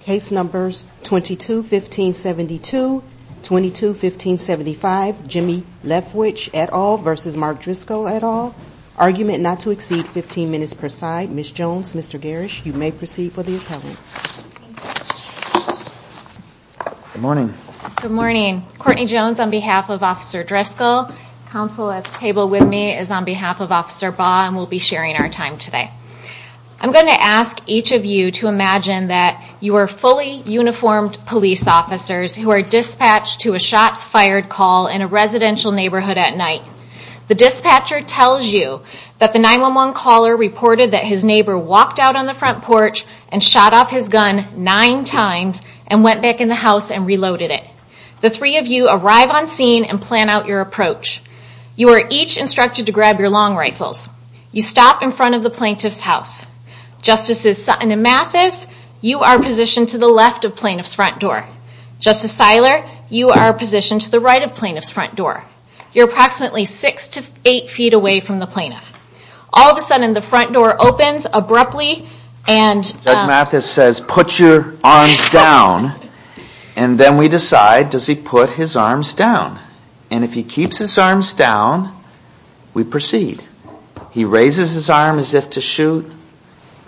Case numbers 22-15-72, 22-15-75, Jimmy Leftwich et al. v. Mark Driscoll et al. Argument not to exceed 15 minutes per side. Ms. Jones, Mr. Garish, you may proceed for the appellants. Good morning. Good morning. Courtney Jones on behalf of Officer Driscoll. Counsel at the table with me is on behalf of Officer Baugh, and we'll be sharing our time today. I'm going to ask each of you to imagine that you are fully uniformed police officers who are dispatched to a shots fired call in a residential neighborhood at night. The dispatcher tells you that the 911 caller reported that his neighbor walked out on the front porch and shot off his gun nine times and went back in the house and reloaded it. The three of you arrive on scene and plan out your approach. You are each instructed to grab your long rifles. You stop in front of the plaintiff's house. Justices Sutton and Mathis, you are positioned to the left of plaintiff's front door. Justice Siler, you are positioned to the right of plaintiff's front door. You're approximately six to eight feet away from the plaintiff. All of a sudden, the front door opens abruptly and... Judge Mathis says, put your arms down, and then we decide, does he put his arms down? And if he keeps his arms down, we proceed. He raises his arm as if to shoot,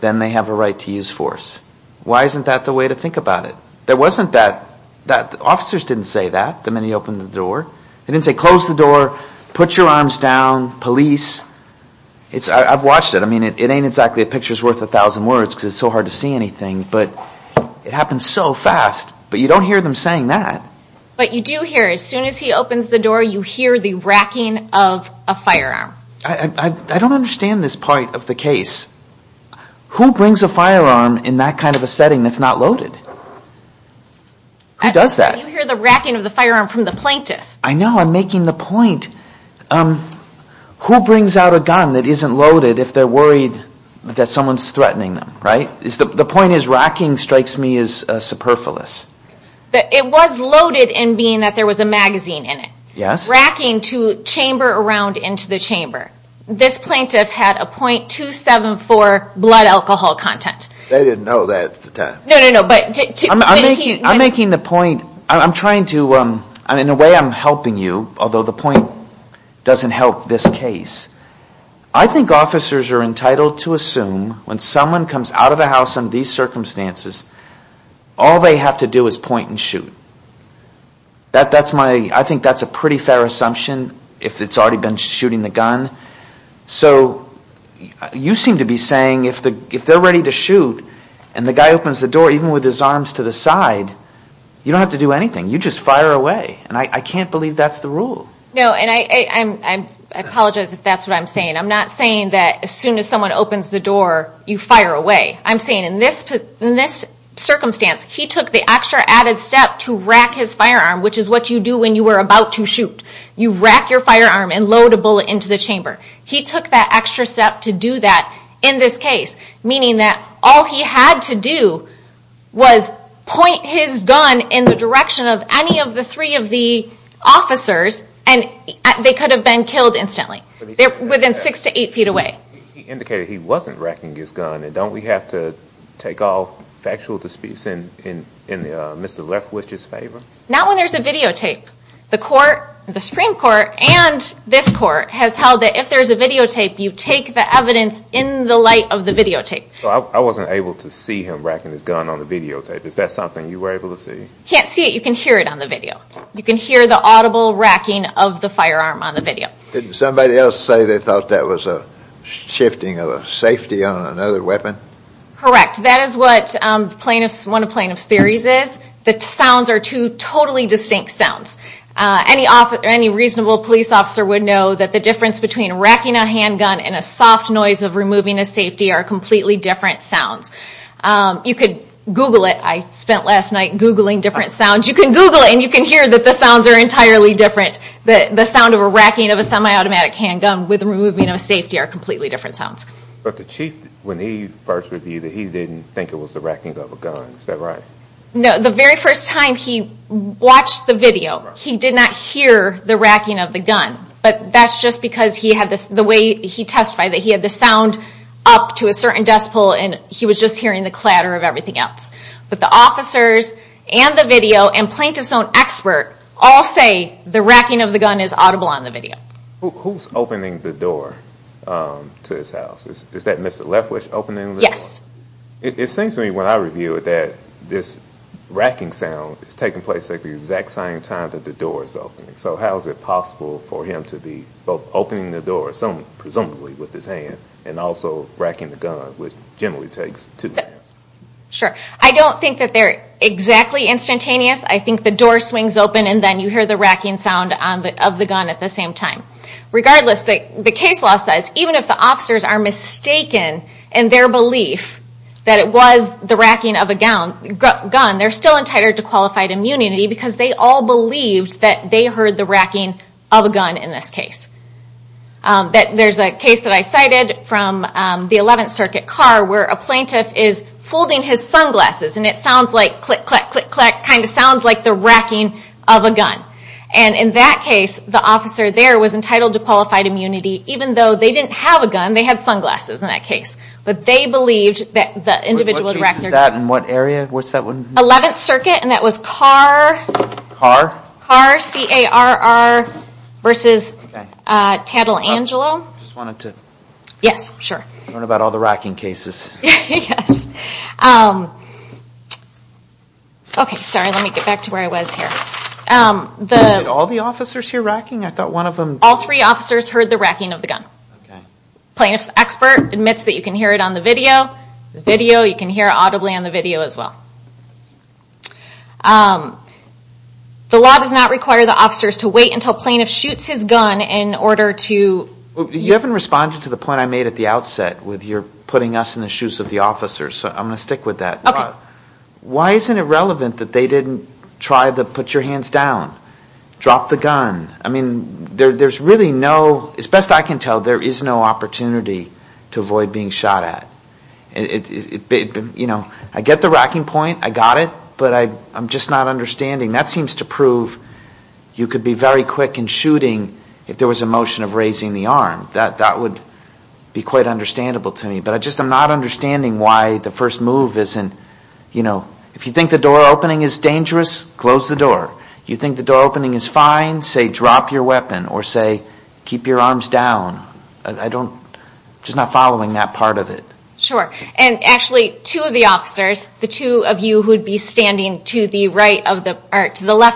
then they have a right to use force. Why isn't that the way to think about it? There wasn't that... the officers didn't say that the minute he opened the door. They didn't say, close the door, put your arms down, police. I've watched it. I mean, it ain't exactly a picture's worth a thousand words because it's so hard to see anything, but it happens so fast, but you don't hear them saying that. But you do hear, as soon as he opens the door, you hear the racking of a firearm. I don't understand this part of the case. Who brings a firearm in that kind of a setting that's not loaded? Who does that? You hear the racking of the firearm from the plaintiff. I know. I'm making the point. Who brings out a gun that isn't loaded if they're worried that someone's threatening them, right? The point is, racking strikes me as superfluous. It was loaded in being that there was a magazine in it. Yes. Racking to chamber around into the chamber. This plaintiff had a .274 blood alcohol content. They didn't know that at the time. No, no, no. I'm making the point. I'm trying to, in a way I'm helping you, although the point doesn't help this case. I think officers are entitled to assume when someone comes out of the house under these circumstances, all they have to do is point and shoot. I think that's a pretty fair assumption if it's already been shooting the gun. So you seem to be saying if they're ready to shoot and the guy opens the door even with his arms to the side, you don't have to do anything. You just fire away, and I can't believe that's the rule. No, and I apologize if that's what I'm saying. I'm not saying that as soon as someone opens the door, you fire away. I'm saying in this circumstance, he took the extra added step to rack his firearm, which is what you do when you were about to shoot. You rack your firearm and load a bullet into the chamber. He took that extra step to do that in this case, meaning that all he had to do was point his gun in the direction of any of the three of the officers, and they could have been killed instantly within six to eight feet away. He indicated he wasn't racking his gun, and don't we have to take all factual disputes in Mr. Lefkowitz's favor? Not when there's a videotape. The Supreme Court and this court has held that if there's a videotape, you take the evidence in the light of the videotape. So I wasn't able to see him racking his gun on the videotape. Is that something you were able to see? You can't see it. You can hear it on the video. You can hear the audible racking of the firearm on the video. Didn't somebody else say they thought that was a shifting of a safety on another weapon? Correct. That is what one of plaintiff's theories is. The sounds are two totally distinct sounds. Any reasonable police officer would know that the difference between racking a handgun and a soft noise of removing a safety are completely different sounds. You could Google it. I spent last night Googling different sounds. You can Google it, and you can hear that the sounds are entirely different. The sound of a racking of a semi-automatic handgun with the removing of a safety are completely different sounds. But the Chief, when he first reviewed it, he didn't think it was the racking of a gun. Is that right? No. The very first time he watched the video, he did not hear the racking of the gun. But that's just because the way he testified, that he had the sound up to a certain decibel, and he was just hearing the clatter of everything else. But the officers and the video and plaintiff's own expert all say the racking of the gun is audible on the video. Who's opening the door to his house? Is that Mr. Lefwish opening the door? Yes. It seems to me, when I review it, that this racking sound is taking place at the exact same time that the door is opening. So how is it possible for him to be both opening the door, presumably with his hand, and also racking the gun, which generally takes two hands? Sure. I don't think that they're exactly instantaneous. I think the door swings open and then you hear the racking sound of the gun at the same time. Regardless, the case law says, even if the officers are mistaken in their belief that it was the racking of a gun, they're still entitled to qualified immunity because they all believed that they heard the racking of a gun in this case. There's a case that I cited from the 11th Circuit, Carr, where a plaintiff is folding his sunglasses and it sounds like click, clack, click, clack, kind of sounds like the racking of a gun. And in that case, the officer there was entitled to qualified immunity, even though they didn't have a gun, they had sunglasses in that case. But they believed that the individual who racked their gun... What case is that? In what area? 11th Circuit, and that was Carr. Carr? Carr, C-A-R-R, versus Tatelangelo. I just wanted to... Yes, sure. Learn about all the racking cases. Yes. Okay, sorry, let me get back to where I was here. Did all the officers hear racking? I thought one of them... All three officers heard the racking of the gun. Okay. The plaintiff's expert admits that you can hear it on the video. The video, you can hear audibly on the video as well. The law does not require the officers to wait until a plaintiff shoots his gun in order to... You haven't responded to the point I made at the outset with your putting us in the shoes of the officers, so I'm going to stick with that. Okay. Why isn't it relevant that they didn't try to put your hands down, drop the gun? I mean, there's really no... As best I can tell, there is no opportunity to avoid being shot at. You know, I get the racking point, I got it, but I'm just not understanding. That seems to prove you could be very quick in shooting if there was a motion of raising the arm. That would be quite understandable to me. But I just am not understanding why the first move isn't... You know, if you think the door opening is dangerous, close the door. You think the door opening is fine, say drop your weapon or say keep your arms down. I'm just not following that part of it. Sure. And actually, two of the officers, the two of you who would be standing to the left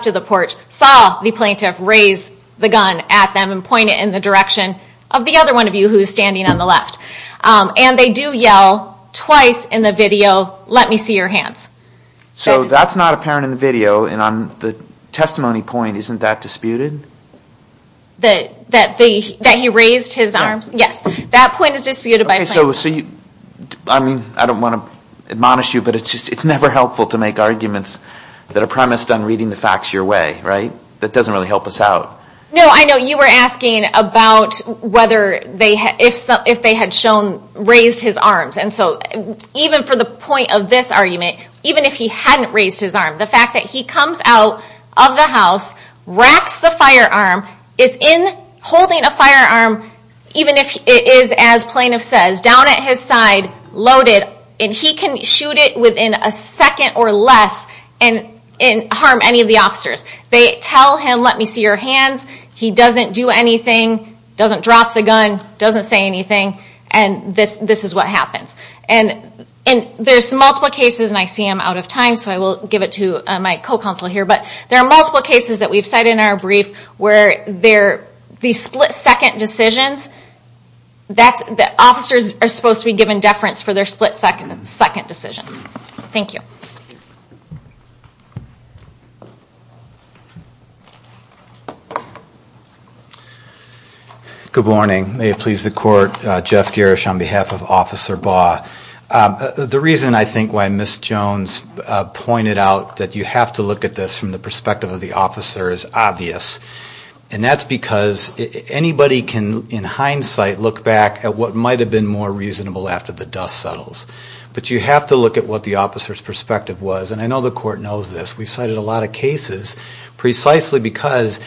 of the porch, saw the plaintiff raise the gun at them and point it in the direction of the other one of you who is standing on the left. And they do yell twice in the video, let me see your hands. So that's not apparent in the video, and on the testimony point, isn't that disputed? That he raised his arms? Yes. That point is disputed by plaintiffs. I don't want to admonish you, but it's never helpful to make arguments that are premised on reading the facts your way. Right? That doesn't really help us out. No, I know you were asking about if they had raised his arms. And so even for the point of this argument, even if he hadn't raised his arm, the fact that he comes out of the house, racks the firearm, is in holding a firearm, even if it is, as plaintiff says, down at his side, loaded, and he can shoot it within a second or less and harm any of the officers. They tell him, let me see your hands. He doesn't do anything, doesn't drop the gun, doesn't say anything, and this is what happens. And there's multiple cases, and I see I'm out of time, so I will give it to my co-counsel here, but there are multiple cases that we've cited in our brief where these split-second decisions, the officers are supposed to be given deference for their split-second decisions. Thank you. Good morning. May it please the Court. Jeff Garish on behalf of Officer Baugh. The reason I think why Ms. Jones pointed out that you have to look at this from the perspective of the officer is obvious, and that's because anybody can, in hindsight, look back at what might have been more reasonable after the dust settles. But you have to look at what the officer's perspective was, and I know the Court knows this. We've cited a lot of cases precisely because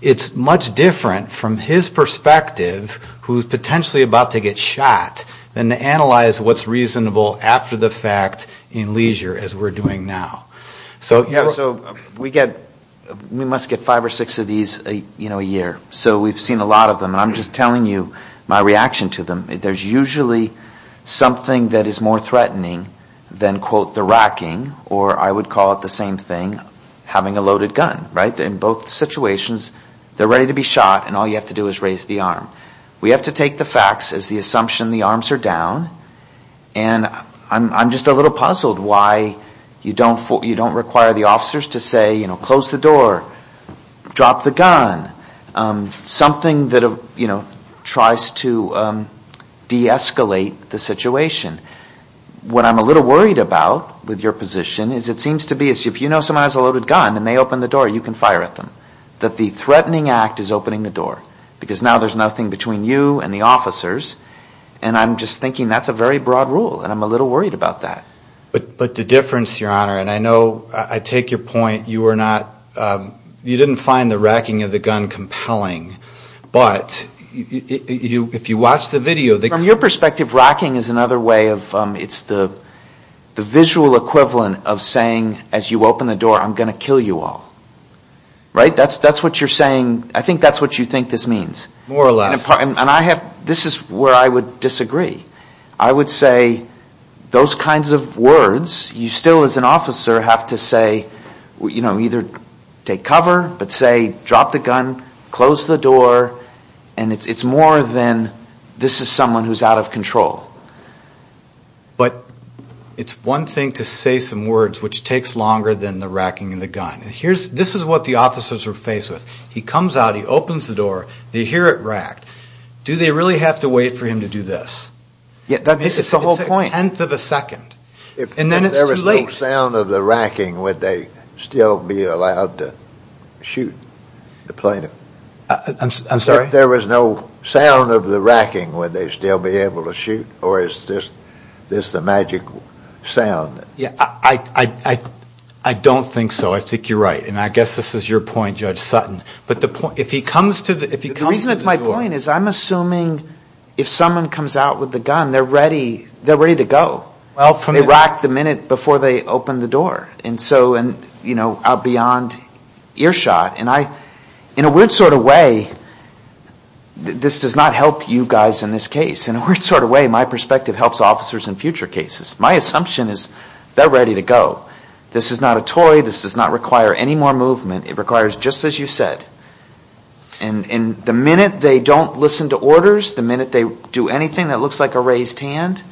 it's much different from his perspective, who's potentially about to get shot, than to analyze what's reasonable after the fact in leisure as we're doing now. So we must get five or six of these a year. So we've seen a lot of them, and I'm just telling you my reaction to them. There's usually something that is more threatening than, quote, the racking, or I would call it the same thing, having a loaded gun, right? In both situations, they're ready to be shot, and all you have to do is raise the arm. We have to take the facts as the assumption the arms are down, and I'm just a little puzzled why you don't require the officers to say, you know, close the door, drop the gun, something that, you know, tries to de-escalate the situation. What I'm a little worried about with your position is it seems to be as if you know someone has a loaded gun and they open the door, you can fire at them, that the threatening act is opening the door, because now there's nothing between you and the officers, and I'm just thinking that's a very broad rule, and I'm a little worried about that. But the difference, Your Honor, and I know I take your point, you are not, you didn't find the racking of the gun compelling, but if you watch the video, the From your perspective, racking is another way of, it's the visual equivalent of saying, as you open the door, I'm going to kill you all, right? That's what you're saying, I think that's what you think this means. More or less. And I have, this is where I would disagree. I would say those kinds of words, you still as an officer have to say, you know, either take cover, but say, drop the gun, close the door, and it's more than this is someone who's out of control. But it's one thing to say some words which takes longer than the racking of the gun. This is what the officers are faced with. He comes out, he opens the door, they hear it racked. Do they really have to wait for him to do this? It's a whole point. It's a tenth of a second. And then it's too late. If there was no sound of the racking, would they still be allowed to shoot the plaintiff? I'm sorry? If there was no sound of the racking, would they still be able to shoot? Or is this the magic sound? Yeah, I don't think so. I think you're right. And I guess this is your point, Judge Sutton. But the point, if he comes to the door. The reason it's my point is I'm assuming if someone comes out with the gun, they're ready to go. They rack the minute before they open the door. And so, you know, out beyond earshot. In a weird sort of way, this does not help you guys in this case. In a weird sort of way, my perspective helps officers in future cases. My assumption is they're ready to go. This is not a toy. This does not require any more movement. It requires just as you said. And the minute they don't listen to orders, the minute they do anything that looks like a raised hand,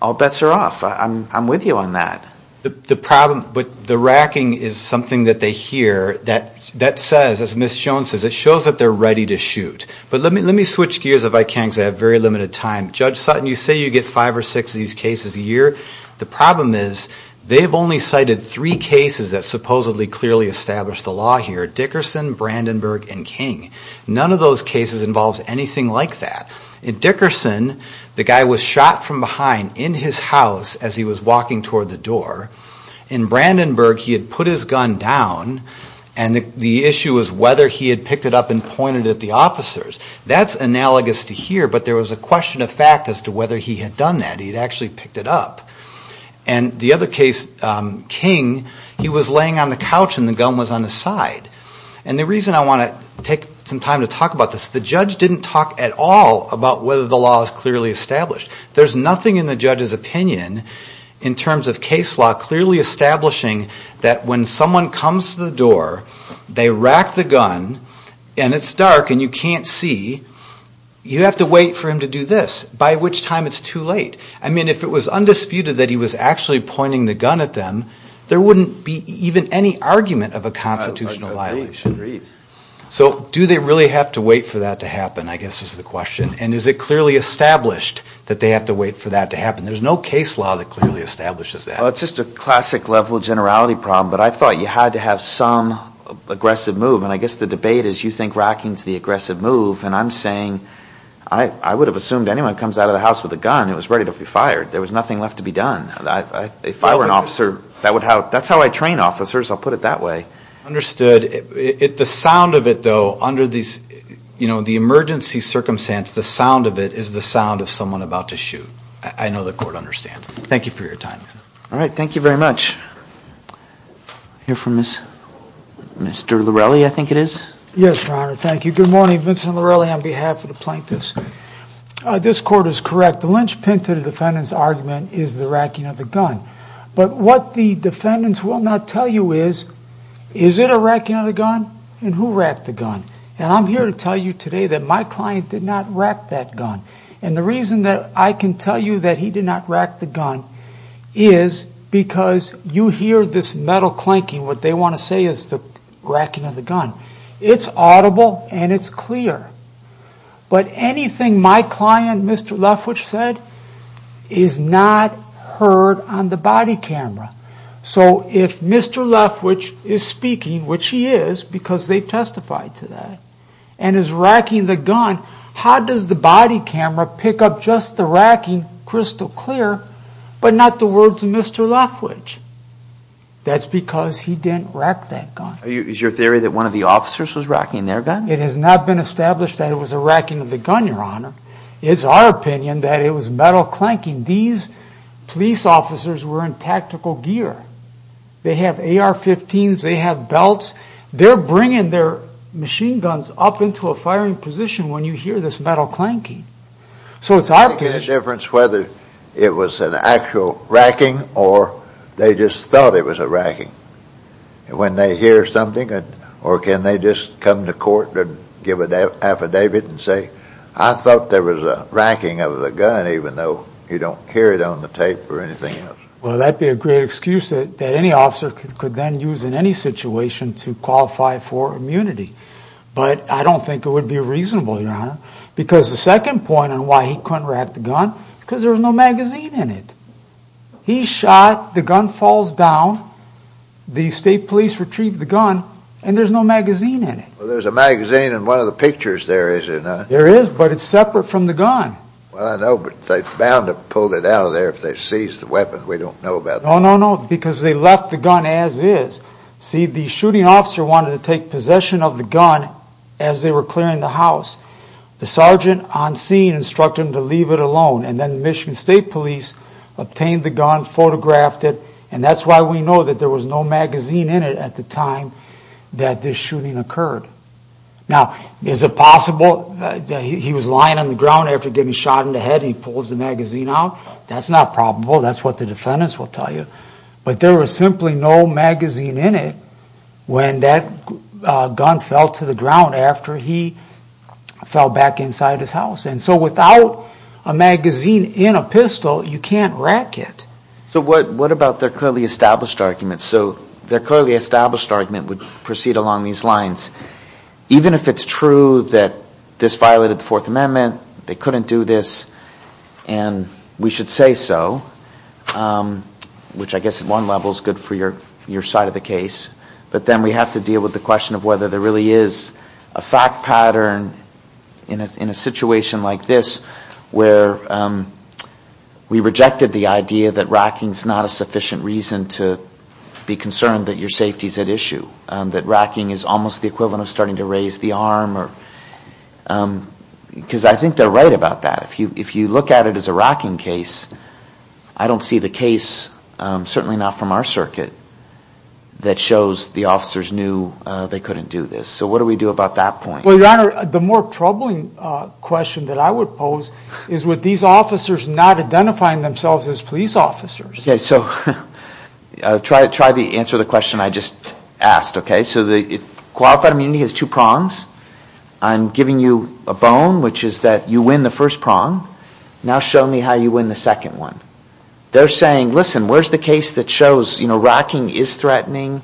all bets are off. I'm with you on that. But the racking is something that they hear that says, as Ms. Jones says, it shows that they're ready to shoot. But let me switch gears if I can because I have very limited time. Judge Sutton, you say you get five or six of these cases a year. The problem is they've only cited three cases that supposedly clearly establish the law here. Dickerson, Brandenburg, and King. None of those cases involves anything like that. In Dickerson, the guy was shot from behind in his house as he was walking toward the door. In Brandenburg, he had put his gun down, and the issue was whether he had picked it up and pointed it at the officers. That's analogous to here, but there was a question of fact as to whether he had done that. He had actually picked it up. And the other case, King, he was laying on the couch and the gun was on his side. And the reason I want to take some time to talk about this, the judge didn't talk at all about whether the law is clearly established. There's nothing in the judge's opinion in terms of case law clearly establishing that when someone comes to the door, they rack the gun, and it's dark and you can't see, you have to wait for him to do this, by which time it's too late. I mean, if it was undisputed that he was actually pointing the gun at them, there wouldn't be even any argument of a constitutional violation. So do they really have to wait for that to happen, I guess is the question, and is it clearly established that they have to wait for that to happen? There's no case law that clearly establishes that. Well, it's just a classic level of generality problem, but I thought you had to have some aggressive move, and I guess the debate is you think Rocking's the aggressive move, and I'm saying, I would have assumed anyone comes out of the house with a gun, it was ready to be fired. There was nothing left to be done. If I were an officer, that's how I train officers, I'll put it that way. Understood. The sound of it, though, under the emergency circumstance, the sound of it is the sound of someone about to shoot. I know the court understands. Thank you for your time. All right. Thank you very much. I hear from Mr. Lorelli, I think it is. Yes, Your Honor. Thank you. Good morning. Vincent Lorelli on behalf of the plaintiffs. This court is correct. The lynchpin to the defendant's argument is the racking of the gun. But what the defendants will not tell you is, is it a racking of the gun, and who racked the gun? And I'm here to tell you today that my client did not rack that gun. And the reason that I can tell you that he did not rack the gun is because you hear this metal clanking. What they want to say is the racking of the gun. It's audible and it's clear. But anything my client, Mr. Lefwitch, said is not heard on the body camera. So if Mr. Lefwitch is speaking, which he is because they testified to that, and is racking the gun, how does the body camera pick up just the racking crystal clear, but not the words of Mr. Lefwitch? That's because he didn't rack that gun. Is your theory that one of the officers was racking their gun? It has not been established that it was a racking of the gun, Your Honor. It's our opinion that it was metal clanking. These police officers were in tactical gear. They have AR-15s, they have belts. They're bringing their machine guns up into a firing position when you hear this metal clanking. So it's our position. It makes a difference whether it was an actual racking or they just thought it was a racking. When they hear something, or can they just come to court and give an affidavit and say, I thought there was a racking of the gun even though you don't hear it on the tape or anything else. Well, that'd be a great excuse that any officer could then use in any situation to qualify for immunity. But I don't think it would be reasonable, Your Honor, because the second point on why he couldn't rack the gun is because there was no magazine in it. He shot, the gun falls down, the state police retrieved the gun, and there's no magazine in it. Well, there's a magazine in one of the pictures there, is there not? There is, but it's separate from the gun. Well, I know, but they're bound to have pulled it out of there if they seized the weapon. We don't know about that. No, no, no, because they left the gun as is. See, the shooting officer wanted to take possession of the gun as they were clearing the house. The sergeant on scene instructed him to leave it alone. And then the Michigan State Police obtained the gun, photographed it, and that's why we know that there was no magazine in it at the time that this shooting occurred. Now, is it possible that he was lying on the ground after getting shot in the head and he pulls the magazine out? That's not probable. That's what the defendants will tell you. But there was simply no magazine in it when that gun fell to the ground after he fell back inside his house. And so without a magazine in a pistol, you can't rack it. So what about their clearly established argument? So their clearly established argument would proceed along these lines. Even if it's true that this violated the Fourth Amendment, they couldn't do this, and we should say so, which I guess at one level is good for your side of the case, but then we have to deal with the question of whether there really is a fact pattern in a situation like this where we rejected the idea that racking is not a sufficient reason to be concerned that your safety is at issue, that racking is almost the equivalent of starting to raise the arm. Because I think they're right about that. If you look at it as a racking case, I don't see the case, certainly not from our circuit, that shows the officers knew they couldn't do this. So what do we do about that point? Well, Your Honor, the more troubling question that I would pose is with these officers not identifying themselves as police officers. Okay, so try to answer the question I just asked, okay? Qualified immunity has two prongs. I'm giving you a bone, which is that you win the first prong. Now show me how you win the second one. They're saying, listen, where's the case that shows racking is threatening,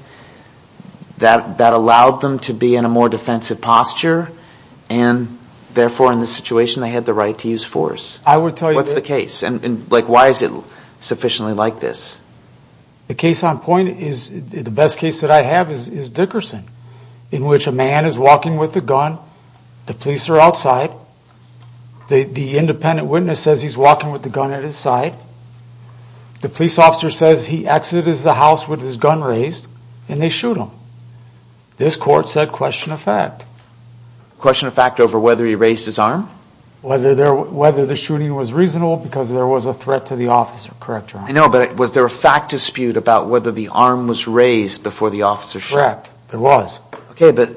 that allowed them to be in a more defensive posture, and therefore in this situation they had the right to use force. What's the case? And why is it sufficiently like this? The case on point is the best case that I have is Dickerson, in which a man is walking with a gun, the police are outside, the independent witness says he's walking with the gun at his side, the police officer says he exited the house with his gun raised, and they shoot him. This court said question of fact. Question of fact over whether he raised his arm? Whether the shooting was reasonable because there was a threat to the officer, correct, Your Honor? I know, but was there a fact dispute about whether the arm was raised before the officer shot? Correct, there was. Okay, but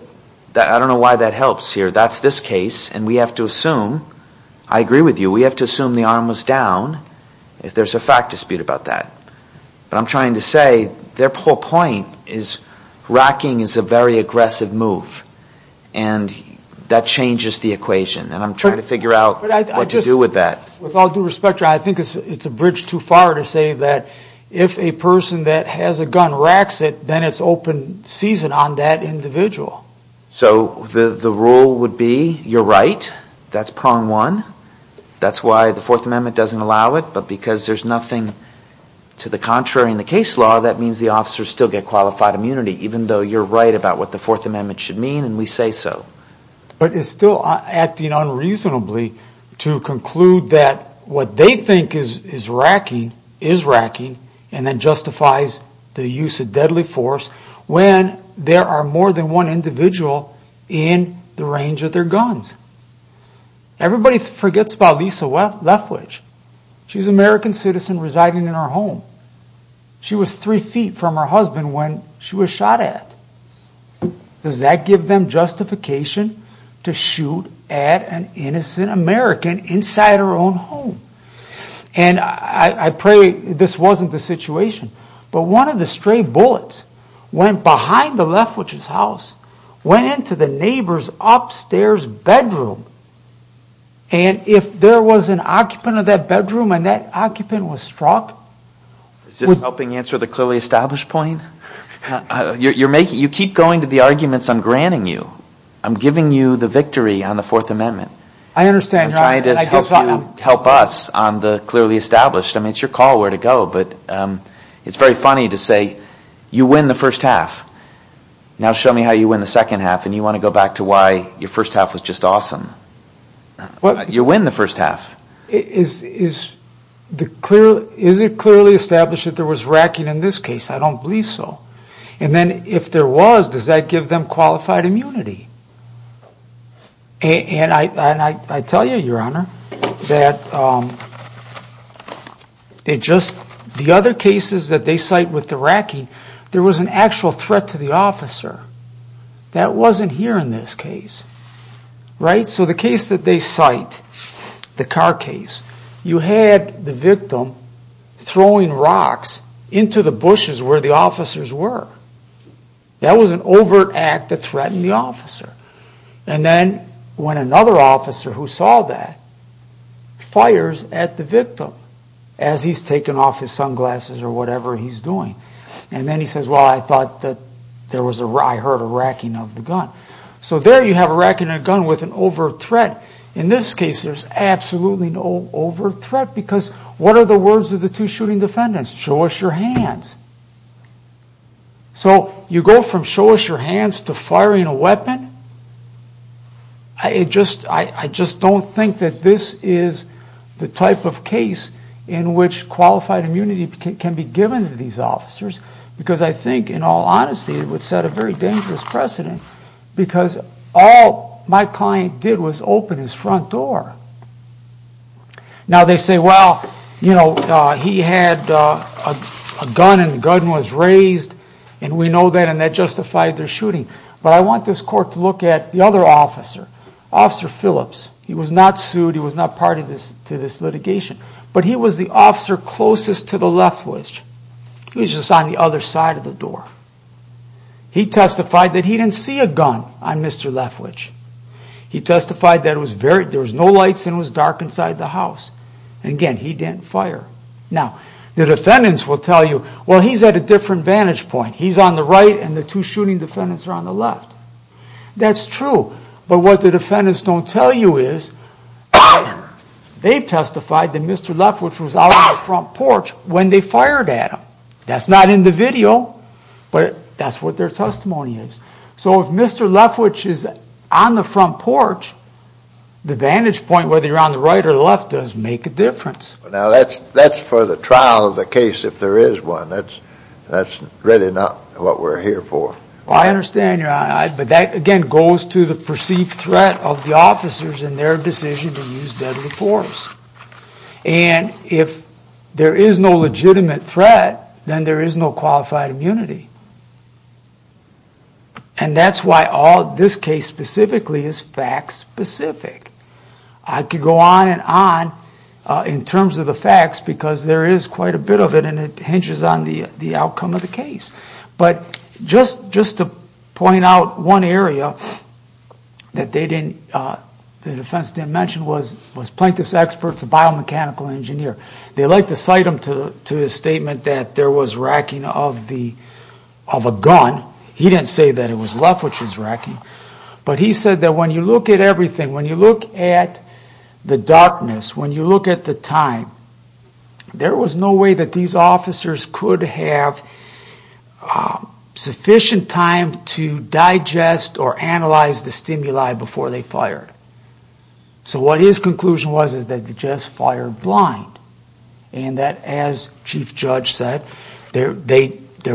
I don't know why that helps here. That's this case, and we have to assume, I agree with you, we have to assume the arm was down if there's a fact dispute about that. But I'm trying to say their whole point is racking is a very aggressive move, and that changes the equation, and I'm trying to figure out what to do with that. With all due respect, Your Honor, I think it's a bridge too far to say that if a person that has a gun racks it, then it's open season on that individual. So the rule would be, you're right, that's prong one, that's why the Fourth Amendment doesn't allow it, but because there's nothing to the contrary in the case law, that means the officers still get qualified immunity, even though you're right about what the Fourth Amendment should mean, and we say so. But it's still acting unreasonably to conclude that what they think is racking is racking, and that justifies the use of deadly force when there are more than one individual in the range of their guns. Everybody forgets about Lisa Lethwich. She's an American citizen residing in her home. She was three feet from her husband when she was shot at. Does that give them justification to shoot at an innocent American inside her own home? And I pray this wasn't the situation, but one of the stray bullets went behind the Lethwich's house, went into the neighbor's upstairs bedroom, and if there was an occupant of that bedroom and that occupant was struck... Is this helping answer the clearly established point? You keep going to the arguments I'm granting you. I'm giving you the victory on the Fourth Amendment. I understand. I'm trying to help us on the clearly established. I mean, it's your call where to go, but it's very funny to say you win the first half. Now show me how you win the second half, and you want to go back to why your first half was just awesome. You win the first half. Is it clearly established that there was racking in this case? I don't believe so. And then if there was, does that give them qualified immunity? And I tell you, Your Honor, that the other cases that they cite with the racking, there was an actual threat to the officer. That wasn't here in this case, right? So the case that they cite, the car case, you had the victim throwing rocks into the bushes where the officers were. That was an overt act that threatened the officer. And then when another officer who saw that fires at the victim as he's taking off his sunglasses or whatever he's doing, and then he says, Well, I thought that I heard a racking of the gun. So there you have a racking of a gun with an overt threat. In this case, there's absolutely no overt threat because what are the words of the two shooting defendants? Show us your hands. So you go from show us your hands to firing a weapon? I just don't think that this is the type of case in which qualified immunity can be given to these officers because I think, in all honesty, it would set a very dangerous precedent because all my client did was open his front door. Now, they say, Well, he had a gun and the gun was raised, and we know that, and that justified their shooting. But I want this court to look at the other officer, Officer Phillips. He was not sued. He was not part of this litigation. But he was the officer closest to the left winch. He was just on the other side of the door. He testified that he didn't see a gun on Mr. Lefwich. He testified that there was no lights and it was dark inside the house. Again, he didn't fire. Now, the defendants will tell you, Well, he's at a different vantage point. He's on the right and the two shooting defendants are on the left. That's true, but what the defendants don't tell you is they testified that Mr. Lefwich was out on the front porch when they fired at him. That's not in the video, but that's what their testimony is. So if Mr. Lefwich is on the front porch, the vantage point, whether you're on the right or left, does make a difference. Now, that's for the trial of the case, if there is one. That's really not what we're here for. I understand, but that, again, goes to the perceived threat of the officers and their decision to use deadly force. And if there is no legitimate threat, then there is no qualified immunity. And that's why this case specifically is fact specific. I could go on and on in terms of the facts because there is quite a bit of it and it hinges on the outcome of the case. But just to point out one area that the defense didn't mention was Plankton's experts, a biomechanical engineer. They like to cite him to his statement that there was racking of a gun. He didn't say that it was Lefwich's racking, but he said that when you look at everything, when you look at the darkness, when you look at the time, there was no way that these officers could have sufficient time to digest or analyze the stimuli before they fired. So what his conclusion was is that they just fired blind. And that, as Chief Judge said, there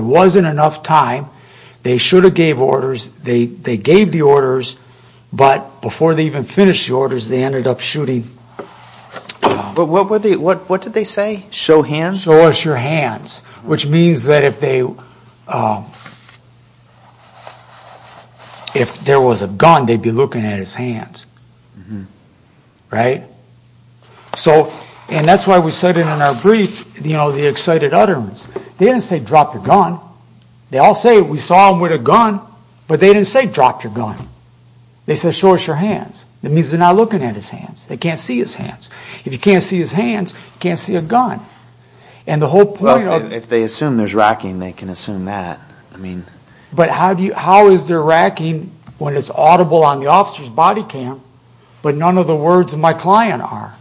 wasn't enough time. They should have gave orders. They gave the orders, but before they even finished the orders, they ended up shooting. But what did they say? Show hands? Show us your hands, which means that if there was a gun, they'd be looking at his hands. Right? And that's why we cited in our brief the excited utterance. They didn't say drop your gun. They all say we saw him with a gun, but they didn't say drop your gun. They said show us your hands. That means they're not looking at his hands. They can't see his hands. If you can't see his hands, you can't see a gun. And the whole point of the... Well, if they assume there's racking, they can assume that. But how is there racking when it's audible on the officer's body cam, but none of the words of my client are?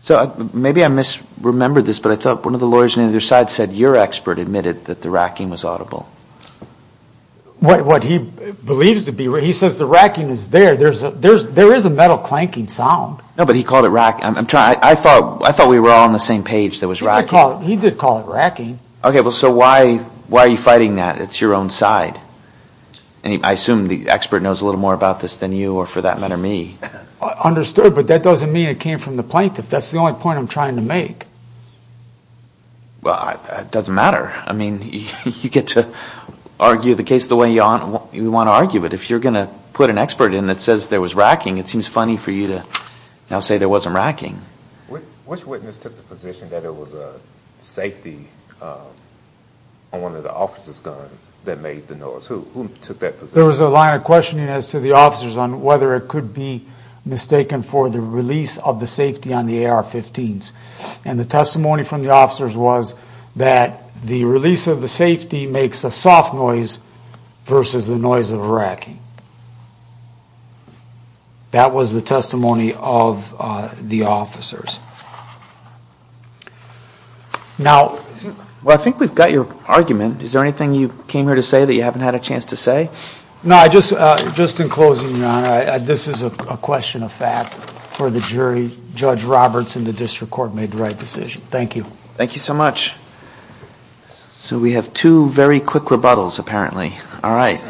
So maybe I misremembered this, but I thought one of the lawyers on either side said your expert admitted that the racking was audible. What he believes to be. He says the racking is there. There is a metal clanking sound. No, but he called it racking. I thought we were all on the same page that it was racking. He did call it racking. Okay, well, so why are you fighting that? It's your own side. I assume the expert knows a little more about this than you or, for that matter, me. Understood, but that doesn't mean it came from the plaintiff. That's the only point I'm trying to make. Well, it doesn't matter. I mean, you get to argue the case the way you want to argue it. But if you're going to put an expert in that says there was racking, it seems funny for you to now say there wasn't racking. Which witness took the position that it was a safety on one of the officer's guns that made the noise? Who took that position? There was a line of questioning as to the officers on whether it could be mistaken for the release of the safety on the AR-15s. And the testimony from the officers was that the release of the safety makes a soft noise versus the noise of a racking. That was the testimony of the officers. Well, I think we've got your argument. Is there anything you came here to say that you haven't had a chance to say? No, just in closing, Your Honor, this is a question of fact for the jury. Judge Roberts in the district court made the right decision. Thank you. Thank you so much. So we have two very quick rebuttals apparently. All right.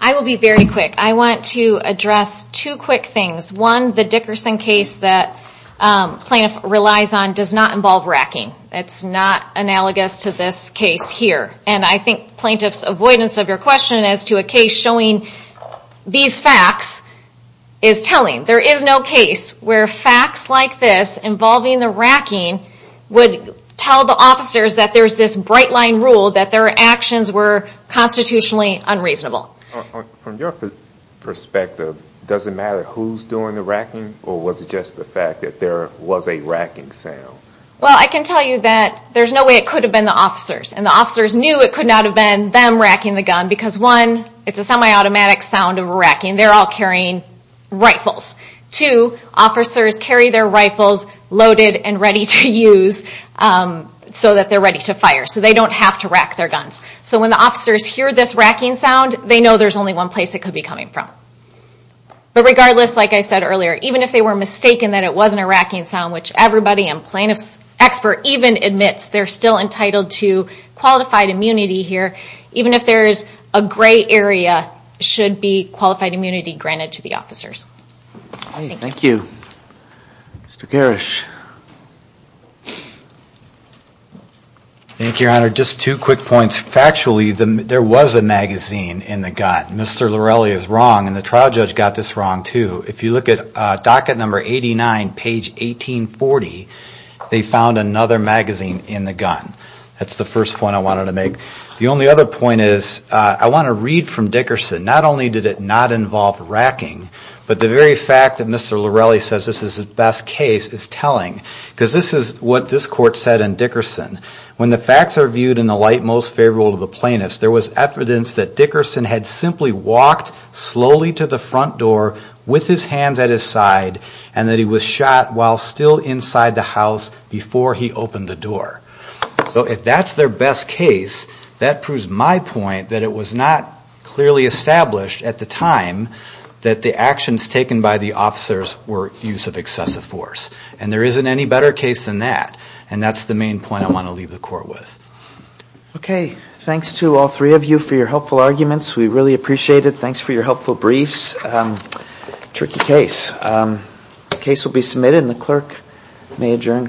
I will be very quick. I want to address two quick things. One, the Dickerson case that plaintiff relies on does not involve racking. It's not analogous to this case here. And I think plaintiff's avoidance of your question as to a case showing these facts is telling. There is no case where facts like this involving the racking would tell the officers that there's this bright line rule that their actions were constitutionally unreasonable. From your perspective, does it matter who's doing the racking or was it just the fact that there was a racking sound? Well, I can tell you that there's no way it could have been the officers. And the officers knew it could not have been them racking the gun because, one, it's a semi-automatic sound of a racking. They're all carrying rifles. Two, officers carry their rifles loaded and ready to use so that they're ready to fire. So they don't have to rack their guns. So when the officers hear this racking sound, they know there's only one place it could be coming from. But regardless, like I said earlier, even if they were mistaken that it wasn't a racking sound, which everybody and plaintiff's expert even admits they're still entitled to qualified immunity here, even if there's a gray area, should be qualified immunity granted to the officers. Thank you. Mr. Garish. Thank you, Your Honor. Just two quick points. Factually, there was a magazine in the gun. Mr. Lorelli is wrong, and the trial judge got this wrong too. If you look at docket number 89, page 1840, they found another magazine in the gun. That's the first point I wanted to make. The only other point is I want to read from Dickerson. Not only did it not involve racking, but the very fact that Mr. Lorelli says this is the best case is telling. Because this is what this court said in Dickerson. When the facts are viewed in the light most favorable to the plaintiffs, there was evidence that Dickerson had simply walked slowly to the front door with his hands at his side and that he was shot while still inside the house before he opened the door. So if that's their best case, that proves my point that it was not clearly established at the time that the actions taken by the officers were use of excessive force. And there isn't any better case than that. And that's the main point I want to leave the court with. Okay. Thanks to all three of you for your helpful arguments. We really appreciate it. Thanks for your helpful briefs. Tricky case. The case will be submitted, and the clerk may adjourn the court.